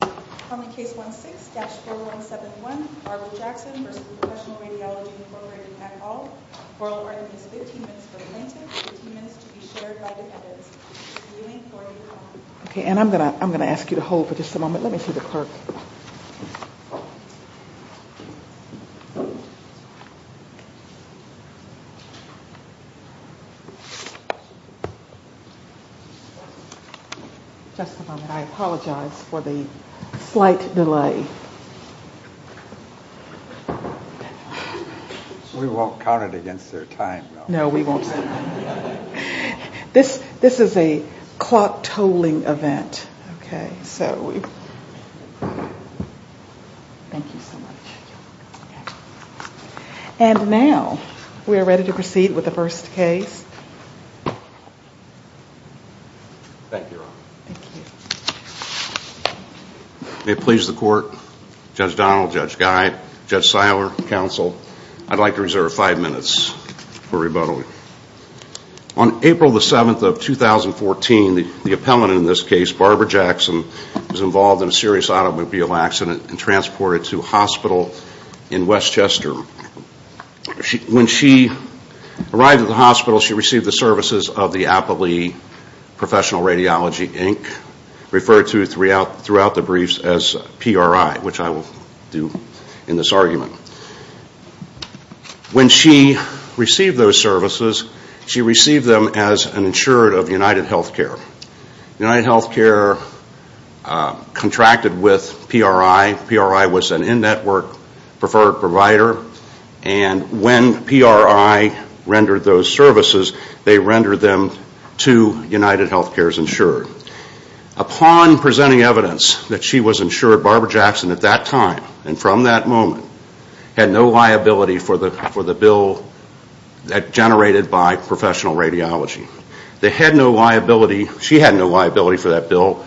Call me Case 16-4171, Barbara Jackson v. Professional Radiology, Inc. at all. Oral order needs 15 minutes for the plaintiff, 15 minutes to be shared by defendants. Viewing 4-0. Okay, and I'm going to ask you to hold for just a moment. Let me see the clerk. Just a moment. I apologize for the slight delay. We won't count it against their time, though. No, we won't. This is a clock-tolling event. And now, we are ready to proceed with the first case. Thank you, Your Honor. Thank you. May it please the Court, Judge Donald, Judge Guy, Judge Seiler, Counsel, I'd like to reserve five minutes for rebuttal. On April the 7th of 2014, the appellant in this case, Barbara Jackson, was involved in a serious automobile accident and transported to a hospital in Westchester. When she arrived at the hospital, she received the services of the Appellee Professional Radiology, Inc., When she received those services, she received them as an insured of UnitedHealthcare. UnitedHealthcare contracted with PRI. PRI was an in-network preferred provider. And when PRI rendered those services, they rendered them to UnitedHealthcare's insured. Upon presenting evidence that she was insured, Barbara Jackson, at that time and from that moment, had no liability for the bill generated by Professional Radiology. They had no liability, she had no liability for that bill,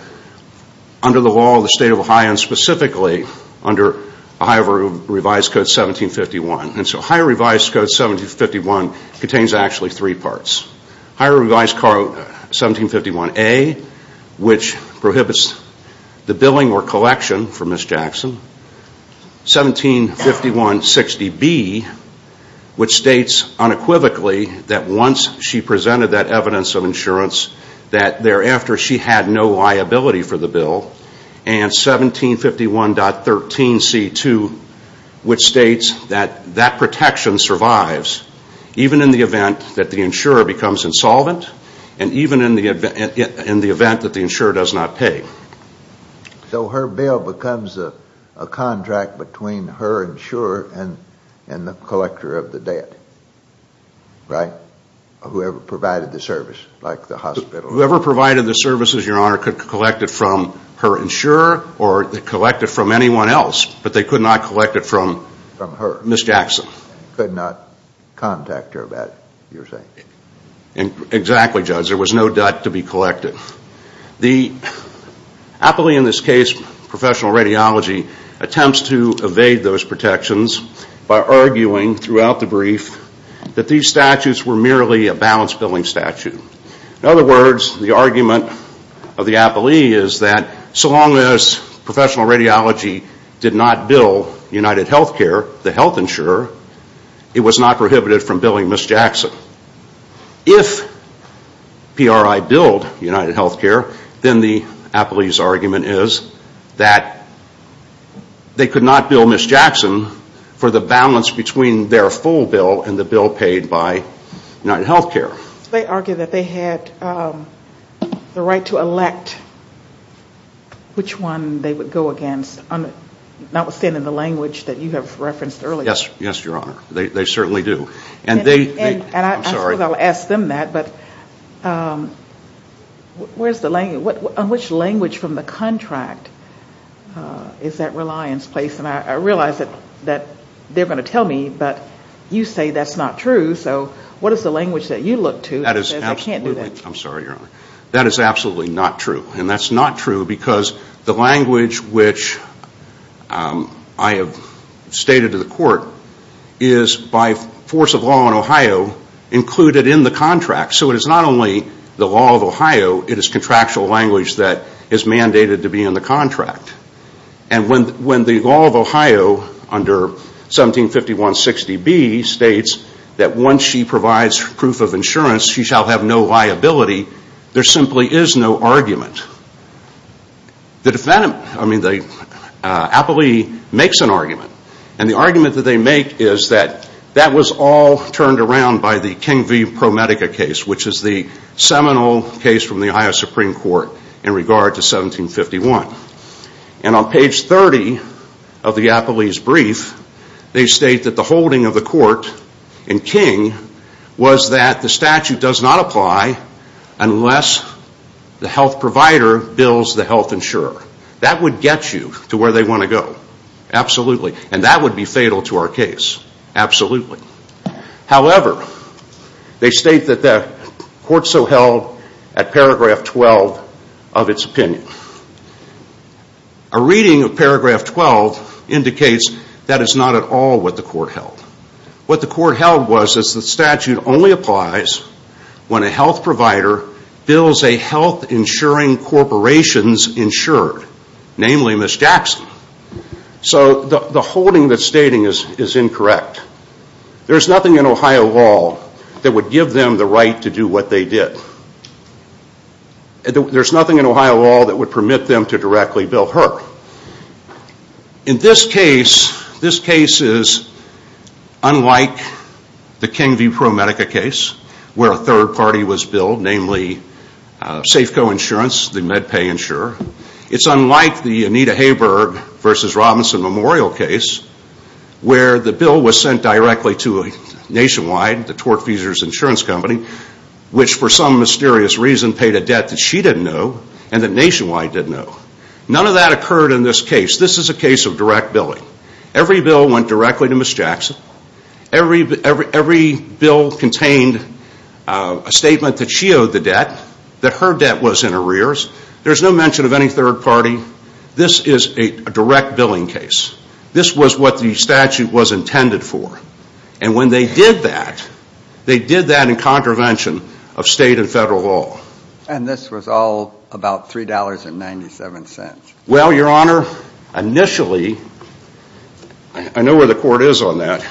under the law of the State of Ohio and specifically under Ohio Revised Code 1751. And so Ohio Revised Code 1751 contains actually three parts. 1751A, which prohibits the billing or collection for Ms. Jackson. 175160B, which states unequivocally that once she presented that evidence of insurance, that thereafter she had no liability for the bill. And 1751.13C2, which states that that protection survives, even in the event that the insurer becomes insolvent, and even in the event that the insurer does not pay. So her bill becomes a contract between her insurer and the collector of the debt, right? Whoever provided the service, like the hospital. Whoever provided the services, Your Honor, could collect it from her insurer or collect it from anyone else, but they could not collect it from Ms. Jackson. They could not contact her about it, you're saying? Exactly, Judge. There was no debt to be collected. The appellee in this case, professional radiology, attempts to evade those protections by arguing throughout the brief that these statutes were merely a balance billing statute. In other words, the argument of the appellee is that so long as professional radiology did not bill UnitedHealthcare, the health insurer, it was not prohibited from billing Ms. Jackson. If PRI billed UnitedHealthcare, then the appellee's argument is that they could not bill Ms. Jackson for the balance between their full bill and the bill paid by UnitedHealthcare. They argue that they had the right to elect which one they would go against, notwithstanding the language that you have referenced earlier. Yes, Your Honor. They certainly do. And I suppose I'll ask them that, but on which language from the contract is that reliance placed? And I realize that they're going to tell me, but you say that's not true, so what is the language that you look to that says I can't do that? I'm sorry, Your Honor. That is absolutely not true. And that's not true because the language which I have stated to the court is by force of law in Ohio included in the contract. So it is not only the law of Ohio, it is contractual language that is mandated to be in the contract. And when the law of Ohio under 175160B states that once she provides proof of insurance, she shall have no liability, there simply is no argument. The appellee makes an argument, and the argument that they make is that that was all turned around by the King v. ProMedica case, which is the seminal case from the Ohio Supreme Court in regard to 1751. And on page 30 of the appellee's brief, they state that the holding of the court in King was that the statute does not apply unless the health provider bills the health insurer. That would get you to where they want to go. Absolutely. And that would be fatal to our case. Absolutely. However, they state that the court so held at paragraph 12 of its opinion. A reading of paragraph 12 indicates that is not at all what the court held. What the court held was that the statute only applies when a health provider bills a health insuring corporation's insurer, namely Ms. Jackson. So the holding that's stating is incorrect. There's nothing in Ohio law that would give them the right to do what they did. There's nothing in Ohio law that would permit them to directly bill her. In this case, this case is unlike the King v. ProMedica case, where a third party was billed, namely Safeco Insurance, the MedPay insurer. It's unlike the Anita Hayberg v. Robinson Memorial case, where the bill was sent directly to Nationwide, the Tort Feasers Insurance Company, which for some mysterious reason paid a debt that she didn't know and that Nationwide didn't know. None of that occurred in this case. This is a case of direct billing. Every bill went directly to Ms. Jackson. Every bill contained a statement that she owed the debt, that her debt was in arrears. There's no mention of any third party. This is a direct billing case. This was what the statute was intended for. And when they did that, they did that in contravention of state and federal law. And this was all about $3.97. Well, Your Honor, initially, I know where the court is on that,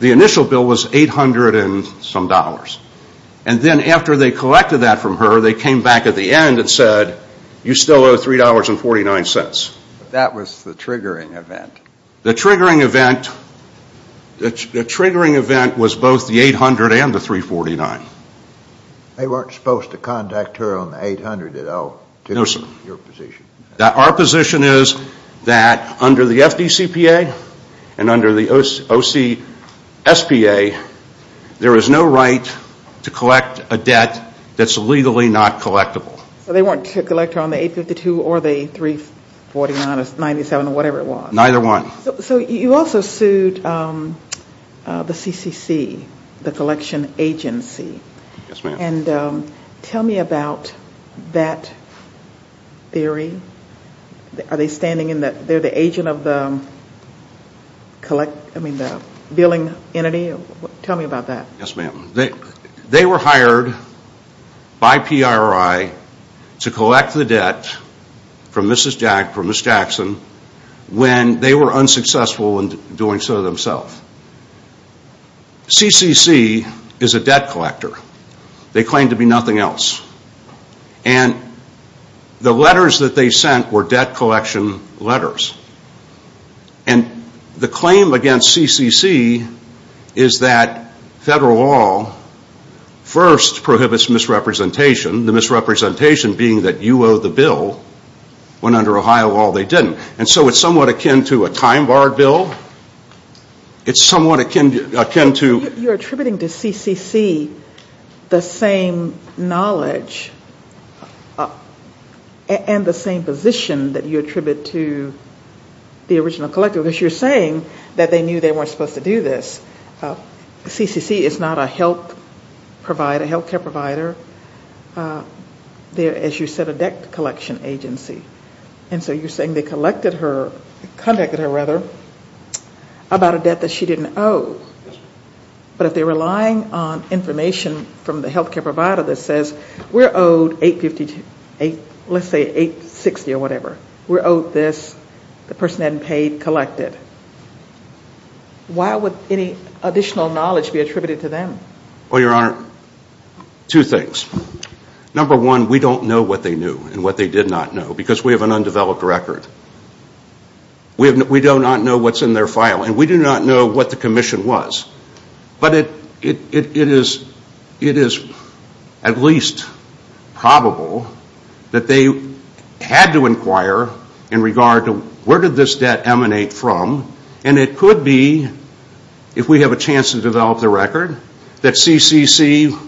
the initial bill was $800 and some dollars. And then after they collected that from her, they came back at the end and said, you still owe $3.49. That was the triggering event. The triggering event was both the $800 and the $3.49. They weren't supposed to contact her on the $800 at all. No, sir. Your position. Our position is that under the FDCPA and under the OCSPA, there is no right to collect a debt that's legally not collectible. So they weren't to collect her on the $8.52 or the $3.49 or $3.97 or whatever it was. Neither one. So you also sued the CCC, the collection agency. Yes, ma'am. And tell me about that theory. Are they standing in the – they're the agent of the billing entity? Tell me about that. Yes, ma'am. They were hired by PRI to collect the debt from Mrs. Jackson when they were unsuccessful in doing so themselves. CCC is a debt collector. They claim to be nothing else. And the letters that they sent were debt collection letters. And the claim against CCC is that federal law first prohibits misrepresentation, the misrepresentation being that you owe the bill when under Ohio law they didn't. And so it's somewhat akin to a time-barred bill. It's somewhat akin to – You're attributing to CCC the same knowledge and the same position that you attribute to the original collector, because you're saying that they knew they weren't supposed to do this. CCC is not a health care provider. They're, as you said, a debt collection agency. And so you're saying they collected her – contacted her, rather, about a debt that she didn't owe. But if they're relying on information from the health care provider that says, we're owed 850 – let's say 860 or whatever. We're owed this. The person hadn't paid. Collect it. Why would any additional knowledge be attributed to them? Well, Your Honor, two things. Number one, we don't know what they knew and what they did not know, because we have an undeveloped record. We do not know what's in their file, and we do not know what the commission was. But it is at least probable that they had to inquire in regard to, where did this debt emanate from? And it could be, if we have a chance to develop the record, that CCC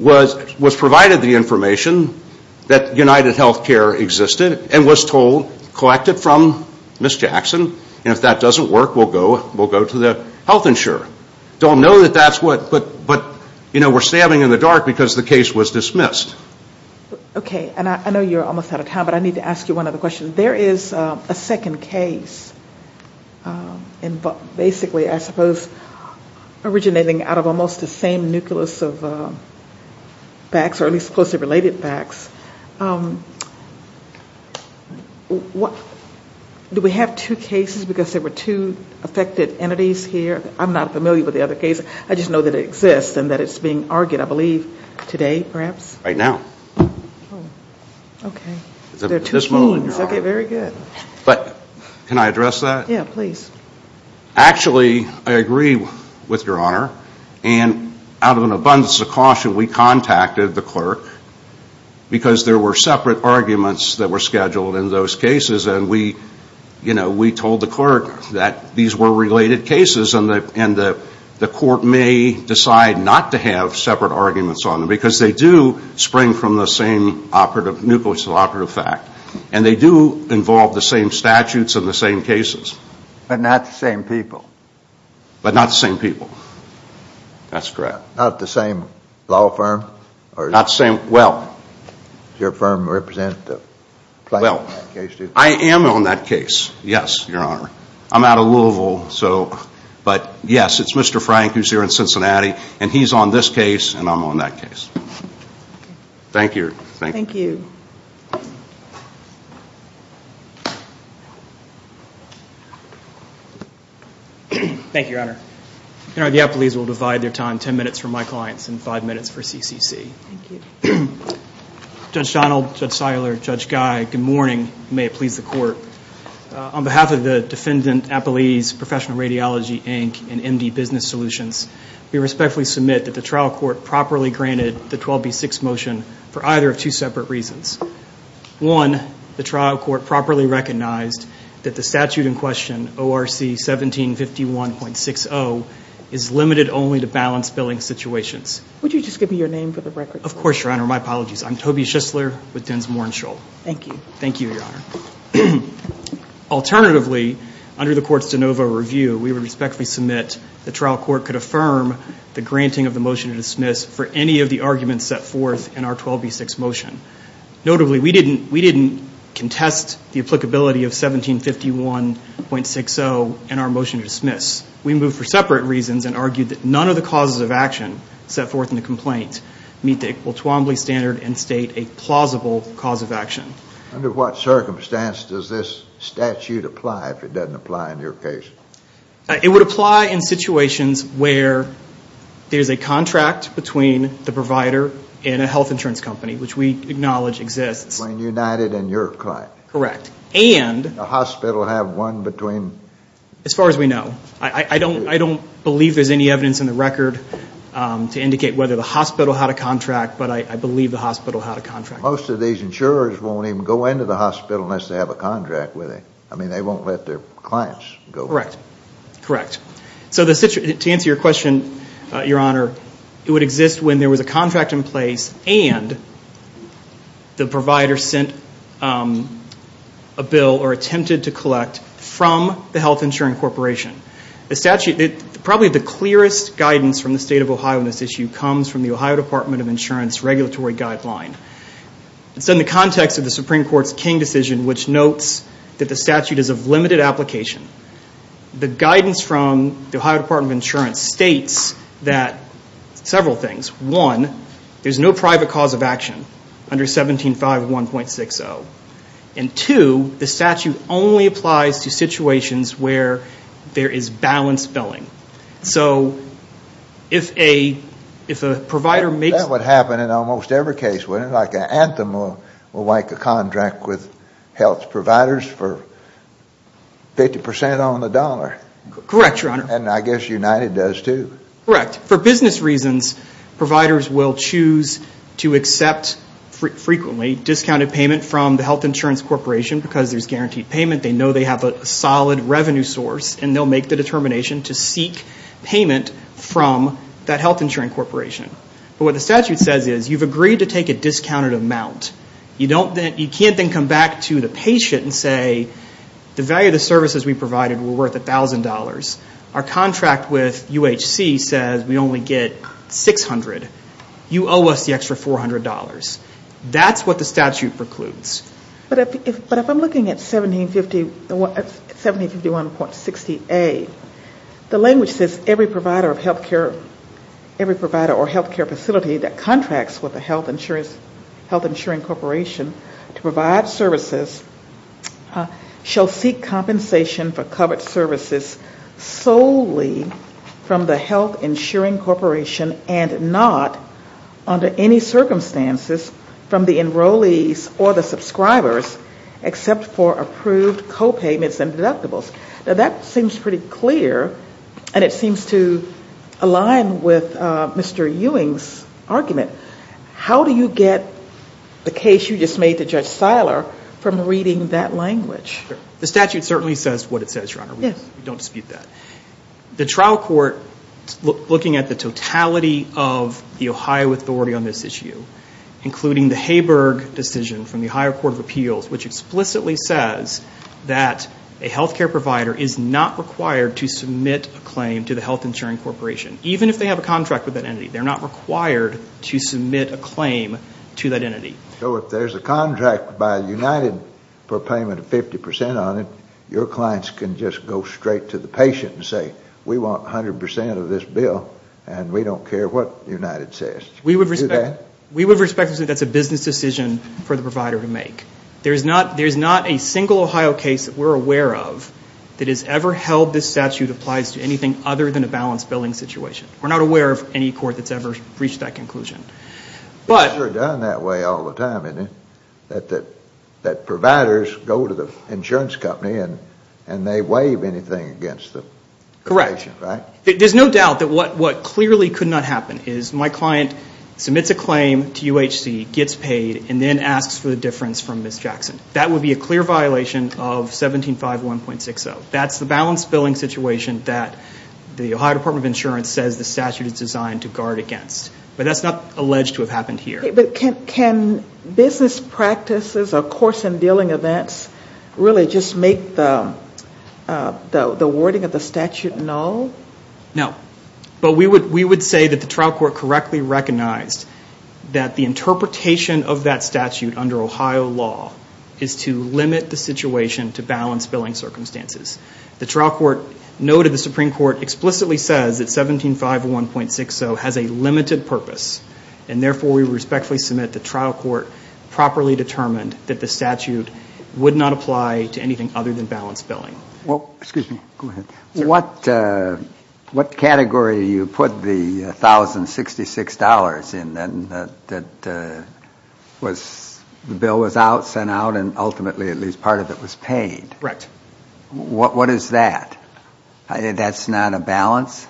was provided the information that UnitedHealthcare existed and was told, collect it from Ms. Jackson, and if that doesn't work, we'll go to the health insurer. Don't know that that's what – but, you know, we're standing in the dark because the case was dismissed. Okay. And I know you're almost out of time, but I need to ask you one other question. There is a second case, basically, I suppose, originating out of almost the same nucleus of facts, or at least closely related facts. Do we have two cases because there were two affected entities here? I'm not familiar with the other case. I just know that it exists and that it's being argued, I believe, today, perhaps? Right now. Okay. There are two teams. Okay, very good. But can I address that? Yeah, please. Actually, I agree with Your Honor, and out of an abundance of caution we contacted the clerk because there were separate arguments that were scheduled in those cases, and we told the clerk that these were related cases and the court may decide not to have separate arguments on them because they do spring from the same operative, nucleus of operative fact, and they do involve the same statutes and the same cases. But not the same people. But not the same people. That's correct. Not the same law firm? Not the same, well. Does your firm represent the plaintiff in that case, too? I am on that case, yes, Your Honor. I'm out of Louisville, but yes, it's Mr. Frank who's here in Cincinnati, and he's on this case, and I'm on that case. Thank you. Thank you. Thank you, Your Honor. The appellees will divide their time ten minutes for my clients and five minutes for CCC. Thank you. Judge Donald, Judge Seiler, Judge Guy, good morning. May it please the court. On behalf of the Defendant Appellees Professional Radiology, Inc., and MD Business Solutions, we respectfully submit that the trial court properly granted the 12B6 motion for either of two separate reasons. One, the trial court properly recognized that the statute in question, ORC 1751.60, is limited only to balanced billing situations. Would you just give me your name for the record? Of course, Your Honor. My apologies. I'm Toby Schistler with Densmore & Scholl. Thank you. Thank you, Your Honor. Alternatively, under the court's de novo review, we would respectfully submit the trial court could affirm the granting of the motion to dismiss for any of the arguments set forth in our 12B6 motion. Notably, we didn't contest the applicability of 1751.60 in our motion to dismiss. We moved for separate reasons and argued that none of the causes of action set forth in the complaint meet the Equal Twombly Standard and state a plausible cause of action. Under what circumstance does this statute apply if it doesn't apply in your case? It would apply in situations where there's a contract between the provider and a health insurance company, which we acknowledge exists. Between United and your client? Correct. And? The hospital have one between? As far as we know. I don't believe there's any evidence in the record to indicate whether the hospital had a contract, but I believe the hospital had a contract. Most of these insurers won't even go into the hospital unless they have a contract with it. I mean, they won't let their clients go in. Correct. Correct. So to answer your question, Your Honor, it would exist when there was a contract in place and the provider sent a bill or attempted to collect from the health insurance corporation. The statute, probably the clearest guidance from the State of Ohio on this issue comes from the Ohio Department of Insurance Regulatory Guideline. It's in the context of the Supreme Court's King decision, which notes that the statute is of limited application. The guidance from the Ohio Department of Insurance states several things. One, there's no private cause of action under 17-5-1.60. And two, the statute only applies to situations where there is balanced billing. So if a provider makes— That would happen in almost every case, wouldn't it? Like Anthem will make a contract with health providers for 50% on the dollar. Correct, Your Honor. And I guess United does too. Correct. For business reasons, providers will choose to accept frequently discounted payment from the health insurance corporation because there's guaranteed payment. They know they have a solid revenue source, and they'll make the determination to seek payment from that health insurance corporation. But what the statute says is you've agreed to take a discounted amount. You can't then come back to the patient and say, the value of the services we provided were worth $1,000. Our contract with UHC says we only get $600. You owe us the extra $400. That's what the statute precludes. But if I'm looking at 1751.60A, the language says every provider of health care, every provider or health care facility that contracts with a health insurance corporation to provide services shall seek compensation for covered services solely from the health insuring corporation and not under any circumstances from the enrollees or the subscribers except for approved copayments and deductibles. Now, that seems pretty clear, and it seems to align with Mr. Ewing's argument. How do you get the case you just made to Judge Seiler from reading that language? The statute certainly says what it says, Your Honor. We don't dispute that. The trial court, looking at the totality of the Ohio authority on this issue, including the Haberg decision from the Ohio Court of Appeals, which explicitly says that a health care provider is not required to submit a claim to the health insuring corporation, even if they have a contract with that entity. They're not required to submit a claim to that entity. So if there's a contract by United for payment of 50% on it, your clients can just go straight to the patient and say, We want 100% of this bill, and we don't care what United says. We would respect to say that's a business decision for the provider to make. There's not a single Ohio case that we're aware of that has ever held this statute applies to anything other than a balanced billing situation. We're not aware of any court that's ever reached that conclusion. It's sure done that way all the time, isn't it? That providers go to the insurance company and they waive anything against the patient, right? Correct. There's no doubt that what clearly could not happen is my client submits a claim to UHC, gets paid, and then asks for the difference from Ms. Jackson. That would be a clear violation of 1751.60. That's the balanced billing situation that the Ohio Department of Insurance says the statute is designed to guard against. But that's not alleged to have happened here. Okay, but can business practices or course-in-dealing events really just make the wording of the statute null? No. But we would say that the trial court correctly recognized that the interpretation of that statute under Ohio law is to limit the situation to balanced billing circumstances. The trial court noted the Supreme Court explicitly says that 1751.60 has a limited purpose, and therefore we respectfully submit the trial court properly determined that the statute would not apply to anything other than balanced billing. Well, excuse me. Go ahead. What category do you put the $1,066 in that the bill was out, sent out, and ultimately at least part of it was paid? Correct. What is that? That's not a balance?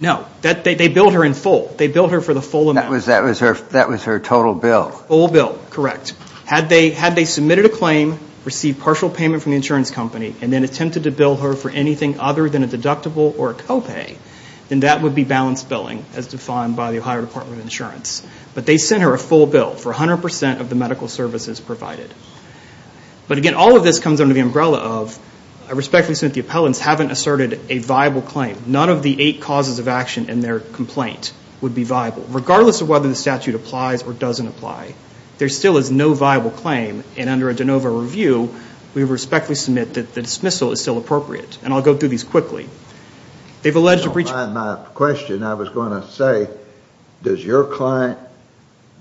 No. They billed her in full. They billed her for the full amount. That was her total bill. Full bill, correct. Had they submitted a claim, received partial payment from the insurance company, and then attempted to bill her for anything other than a deductible or a copay, then that would be balanced billing as defined by the Ohio Department of Insurance. But they sent her a full bill for 100% of the medical services provided. But again, all of this comes under the umbrella of I respectfully submit the appellants haven't asserted a viable claim, none of the eight causes of action in their complaint would be viable, regardless of whether the statute applies or doesn't apply. There still is no viable claim, and under a de novo review, we respectfully submit that the dismissal is still appropriate. And I'll go through these quickly. They've alleged a breach of trust. On my question, I was going to say, does your client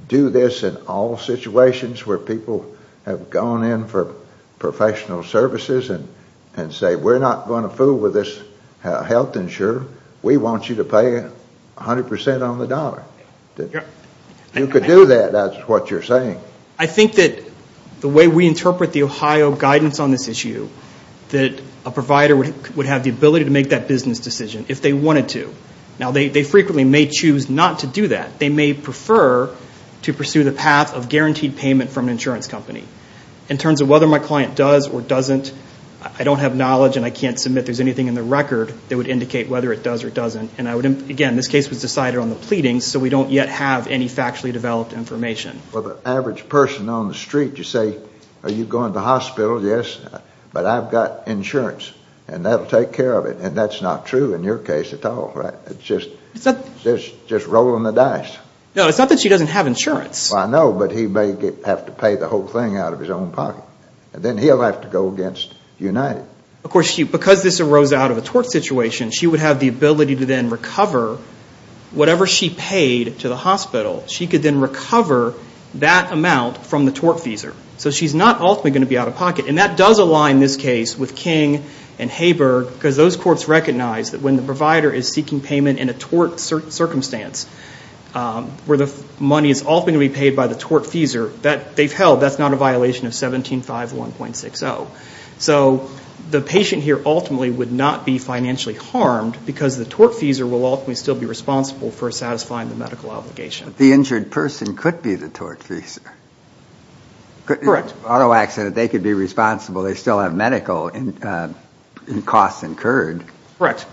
do this in all situations where people have gone in for professional services and say, we're not going to fool with this health insurer. We want you to pay 100% on the dollar. If you could do that, that's what you're saying. I think that the way we interpret the Ohio guidance on this issue, that a provider would have the ability to make that business decision if they wanted to. Now, they frequently may choose not to do that. They may prefer to pursue the path of guaranteed payment from an insurance company. In terms of whether my client does or doesn't, I don't have knowledge and I can't submit there's anything in the record that would indicate whether it does or doesn't. And again, this case was decided on the pleading, so we don't yet have any factually developed information. Well, the average person on the street, you say, are you going to the hospital? Yes, but I've got insurance, and that will take care of it. And that's not true in your case at all, right? It's just rolling the dice. No, it's not that she doesn't have insurance. Well, I know, but he may have to pay the whole thing out of his own pocket. Then he'll have to go against United. Of course, because this arose out of a tort situation, she would have the ability to then recover whatever she paid to the hospital. She could then recover that amount from the tort feeser. So she's not ultimately going to be out of pocket. And that does align this case with King and Haber, because those courts recognize that when the provider is seeking payment in a tort circumstance where the money is ultimately paid by the tort feeser, they've held that's not a violation of 17-5-1.60. So the patient here ultimately would not be financially harmed because the tort feeser will ultimately still be responsible for satisfying the medical obligation. The injured person could be the tort feeser. Correct. Auto accident, they could be responsible. They still have medical costs incurred. Correct.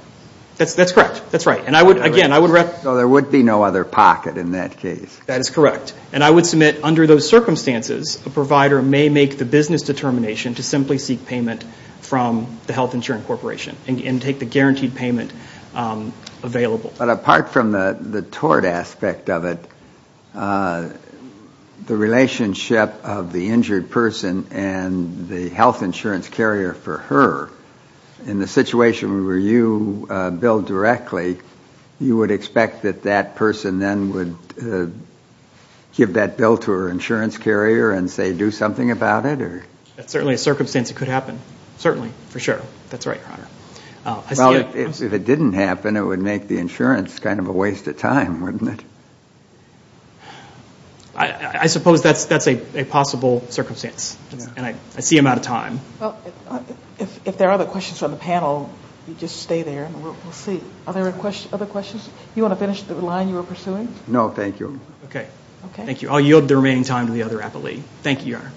That's correct. That's right. So there would be no other pocket in that case. That is correct. And I would submit under those circumstances, a provider may make the business determination to simply seek payment from the health insurance corporation and take the guaranteed payment available. But apart from the tort aspect of it, the relationship of the injured person and the health insurance carrier for her, in the situation where you bill directly, you would expect that that person then would give that bill to her insurance carrier and say do something about it? That's certainly a circumstance that could happen. Certainly. For sure. That's right, Your Honor. Well, if it didn't happen, it would make the insurance kind of a waste of time, wouldn't it? I suppose that's a possible circumstance. And I see him out of time. Well, if there are other questions from the panel, you just stay there and we'll see. Are there other questions? Do you want to finish the line you were pursuing? No, thank you. Okay. Thank you. I'll yield the remaining time to the other appellee. Thank you, Your Honor.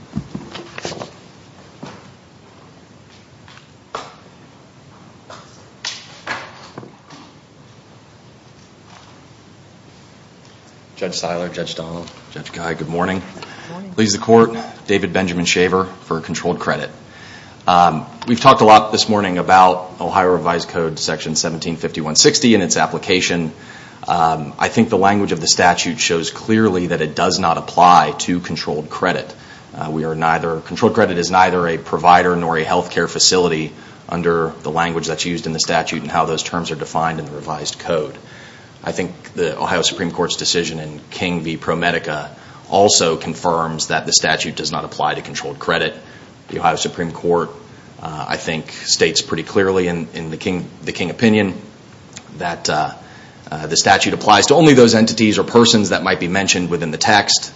Judge Siler, Judge Donald, Judge Guy, good morning. Good morning. I please the Court, David Benjamin Shaver, for controlled credit. We've talked a lot this morning about Ohio revised code section 175160 and its application. I think the language of the statute shows clearly that it does not apply to controlled credit. Controlled credit is neither a provider nor a health care facility under the language that's used in the statute and how those terms are defined in the revised code. I think the Ohio Supreme Court's decision in King v. ProMedica also confirms that the statute does not apply to controlled credit. The Ohio Supreme Court, I think, states pretty clearly in the King opinion that the statute applies to only those entities or persons that might be mentioned within the text,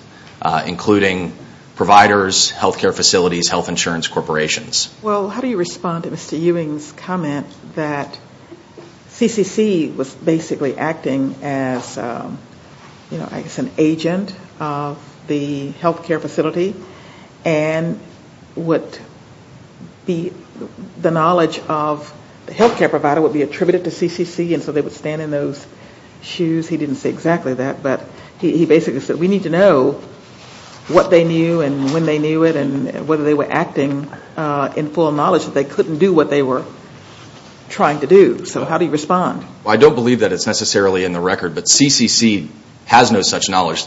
including providers, health care facilities, health insurance corporations. Well, how do you respond to Mr. Ewing's comment that CCC was basically acting as an agent of the health care facility and the knowledge of the health care provider would be attributed to CCC and so they would stand in those shoes? He didn't say exactly that, but he basically said we need to know what they knew and when they knew it and whether they were acting in full knowledge that they couldn't do what they were trying to do. So how do you respond? I don't believe that it's necessarily in the record, but CCC has no such knowledge.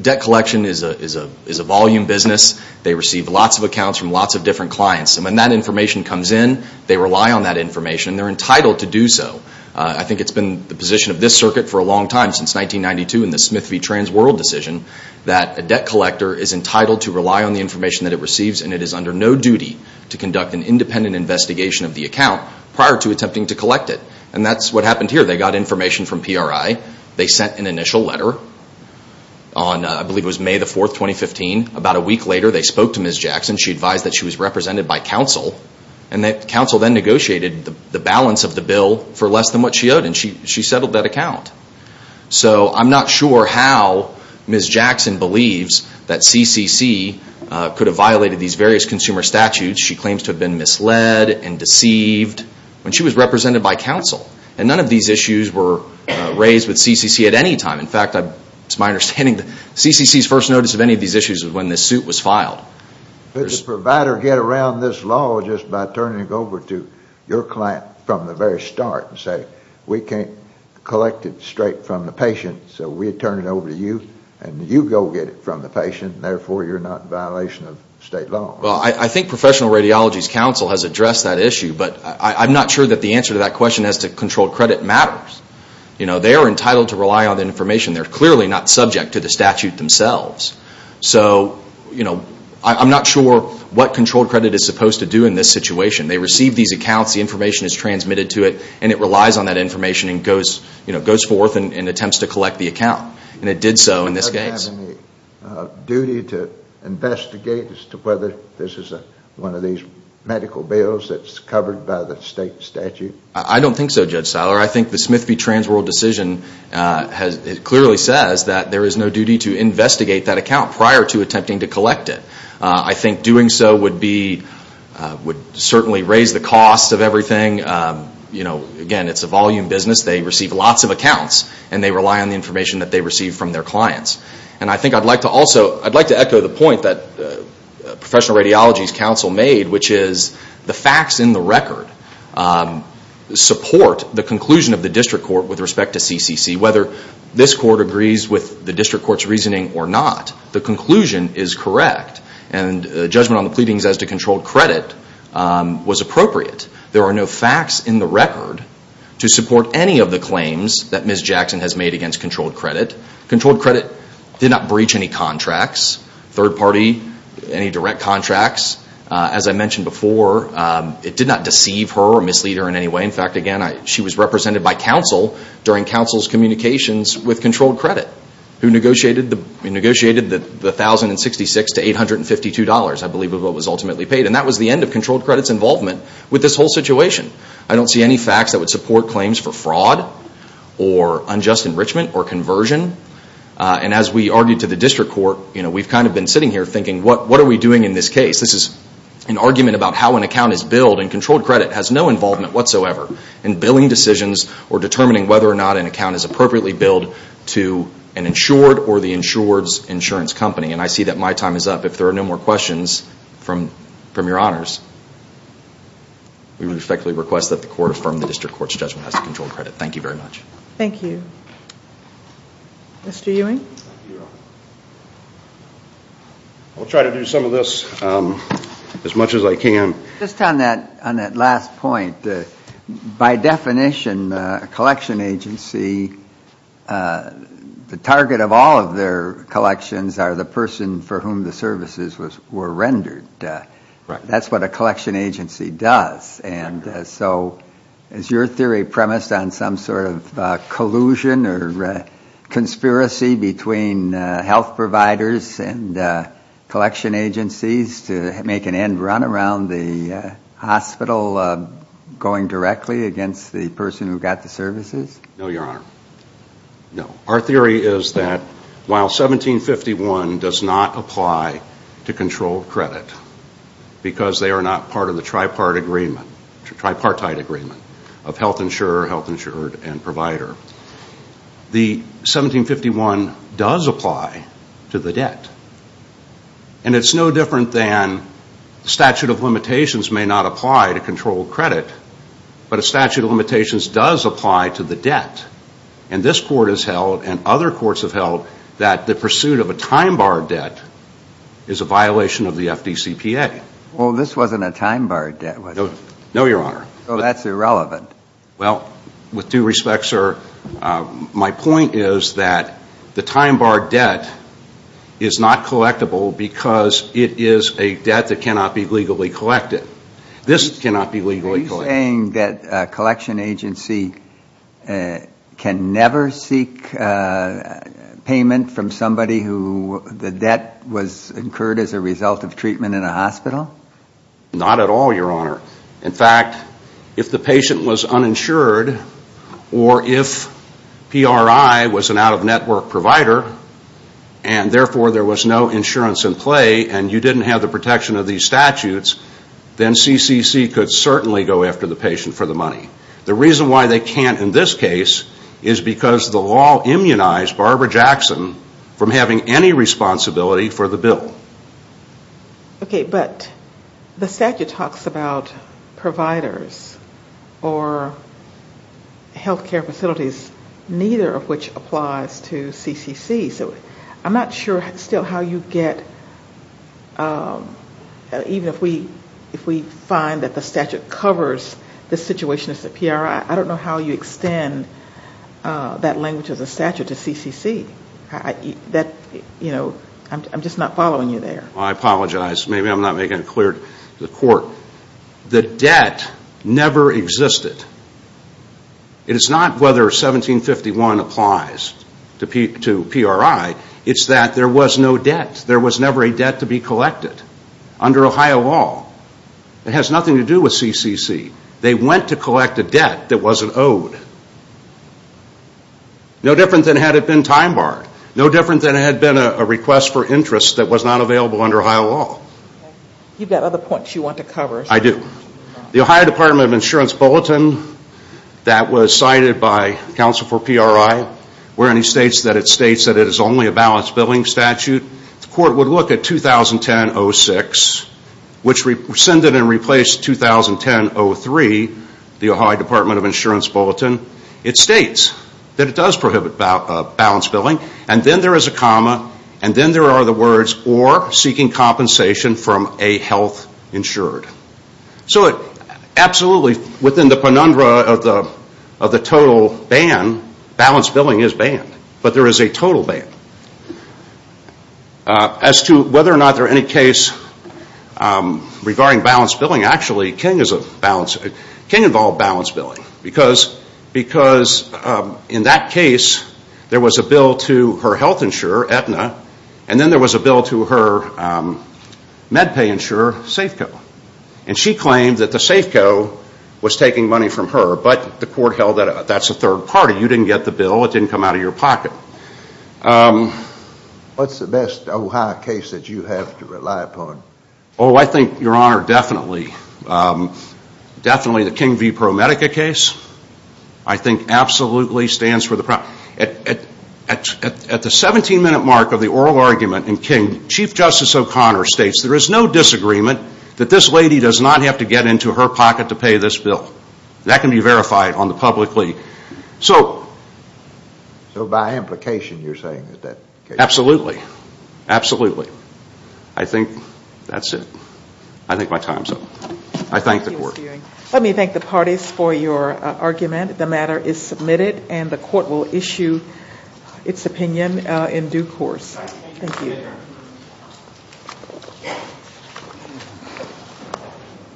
Debt collection is a volume business. They receive lots of accounts from lots of different clients. And when that information comes in, they rely on that information and they're entitled to do so. I think it's been the position of this circuit for a long time, since 1992 in the Smith v. TransWorld decision, that a debt collector is entitled to rely on the information that it receives and it is under no duty to conduct an independent investigation of the account prior to attempting to collect it. And that's what happened here. They got information from PRI. They sent an initial letter on, I believe it was May 4, 2015. About a week later, they spoke to Ms. Jackson. She advised that she was represented by counsel and that counsel then negotiated the balance of the bill for less than what she owed and she settled that account. So I'm not sure how Ms. Jackson believes that CCC could have violated these various consumer statutes. She claims to have been misled and deceived when she was represented by counsel. And none of these issues were raised with CCC at any time. In fact, it's my understanding that CCC's first notice of any of these issues was when this suit was filed. Did the provider get around this law just by turning it over to your client from the very start and say, we can't collect it straight from the patient, so we'll turn it over to you and you go get it from the patient and therefore you're not in violation of state law? Well, I think professional radiology's counsel has addressed that issue, but I'm not sure that the answer to that question as to controlled credit matters. You know, they are entitled to rely on the information. They're clearly not subject to the statute themselves. So, you know, I'm not sure what controlled credit is supposed to do in this situation. They receive these accounts. The information is transmitted to it and it relies on that information and goes forth and attempts to collect the account. And it did so in this case. Does it have any duty to investigate as to whether this is one of these medical bills that's covered by the state statute? I don't think so, Judge Siler. I think the Smith v. Transworld decision clearly says that there is no duty to investigate that account prior to attempting to collect it. I think doing so would certainly raise the cost of everything. You know, again, it's a volume business. They receive lots of accounts and they rely on the information that they receive from their clients. And I think I'd like to also echo the point that professional radiology's counsel made, which is the facts in the record support the conclusion of the district court with respect to CCC. Whether this court agrees with the district court's reasoning or not, the conclusion is correct. And judgment on the pleadings as to controlled credit was appropriate. There are no facts in the record to support any of the claims that Ms. Jackson has made against controlled credit. Controlled credit did not breach any contracts, third party, any direct contracts. As I mentioned before, it did not deceive her or mislead her in any way. In fact, again, she was represented by counsel during counsel's communications with controlled credit who negotiated the $1,066 to $852, I believe, of what was ultimately paid. And that was the end of controlled credit's involvement with this whole situation. I don't see any facts that would support claims for fraud or unjust enrichment or conversion. And as we argued to the district court, you know, we've kind of been sitting here thinking, what are we doing in this case? This is an argument about how an account is billed and controlled credit has no involvement whatsoever in billing decisions or determining whether or not an account is appropriately billed to an insured or the insured's insurance company. And I see that my time is up. If there are no more questions from your honors, we respectfully request that the court affirm the district court's judgment as to controlled credit. Thank you very much. Thank you. Mr. Ewing? I'll try to do some of this as much as I can. Just on that last point, by definition, a collection agency, the target of all of their collections are the person for whom the services were rendered. That's what a collection agency does. And so is your theory premised on some sort of collusion or conspiracy between health providers and collection agencies to make an end run around the hospital going directly against the person who got the services? No, your honor, no. Our theory is that while 1751 does not apply to controlled credit because they are not part of the tripartite agreement of health insurer, health insured, and provider, the 1751 does apply to the debt. And it's no different than statute of limitations may not apply to controlled credit, but a statute of limitations does apply to the debt. And this court has held and other courts have held that the pursuit of a time barred debt is a violation of the FDCPA. Well, this wasn't a time barred debt, was it? No, your honor. So that's irrelevant. Well, with due respect, sir, my point is that the time barred debt is not collectible because it is a debt that cannot be legally collected. This cannot be legally collected. Are you saying that a collection agency can never seek payment from somebody who the debt was incurred as a result of treatment in a hospital? Not at all, your honor. In fact, if the patient was uninsured or if PRI was an out-of-network provider and therefore there was no insurance in play and you didn't have the protection of these statutes, then CCC could certainly go after the patient for the money. The reason why they can't in this case is because the law immunized Barbara Jackson from having any responsibility for the bill. Okay, but the statute talks about providers or health care facilities, neither of which applies to CCC. So I'm not sure still how you get, even if we find that the statute covers the situation of the PRI, I don't know how you extend that language of the statute to CCC. I'm just not following you there. I apologize. Maybe I'm not making it clear to the court. The debt never existed. It is not whether 1751 applies to PRI. It's that there was no debt. There was never a debt to be collected under Ohio law. It has nothing to do with CCC. They went to collect a debt that wasn't owed. No different than had it been time barred. No different than it had been a request for interest that was not available under Ohio law. You've got other points you want to cover. I do. The Ohio Department of Insurance Bulletin that was cited by counsel for PRI, wherein it states that it is only a balanced billing statute, the court would look at 2010-06, which rescinded and replaced 2010-03, the Ohio Department of Insurance Bulletin, it states that it does prohibit balanced billing, and then there is a comma, and then there are the words, or seeking compensation from a health insured. So absolutely within the penundra of the total ban, balanced billing is banned. But there is a total ban. As to whether or not there are any case regarding balanced billing, actually King involved balanced billing, because in that case there was a bill to her health insurer, Aetna, and then there was a bill to her MedPay insurer, Safeco. And she claimed that the Safeco was taking money from her, but the court held that that's a third party. You didn't get the bill. It didn't come out of your pocket. What's the best Ohio case that you have to rely upon? Oh, I think, Your Honor, definitely the King v. ProMedica case, I think absolutely stands for the problem. At the 17-minute mark of the oral argument in King, Chief Justice O'Connor states there is no disagreement that this lady does not have to get into her pocket to pay this bill. That can be verified on the publicly. So by implication, you're saying that that case? Absolutely. Absolutely. I think that's it. I think my time's up. I thank the court. Thank you, Mr. Ewing. Let me thank the parties for your argument. The matter is submitted, and the court will issue its opinion in due course. Thank you.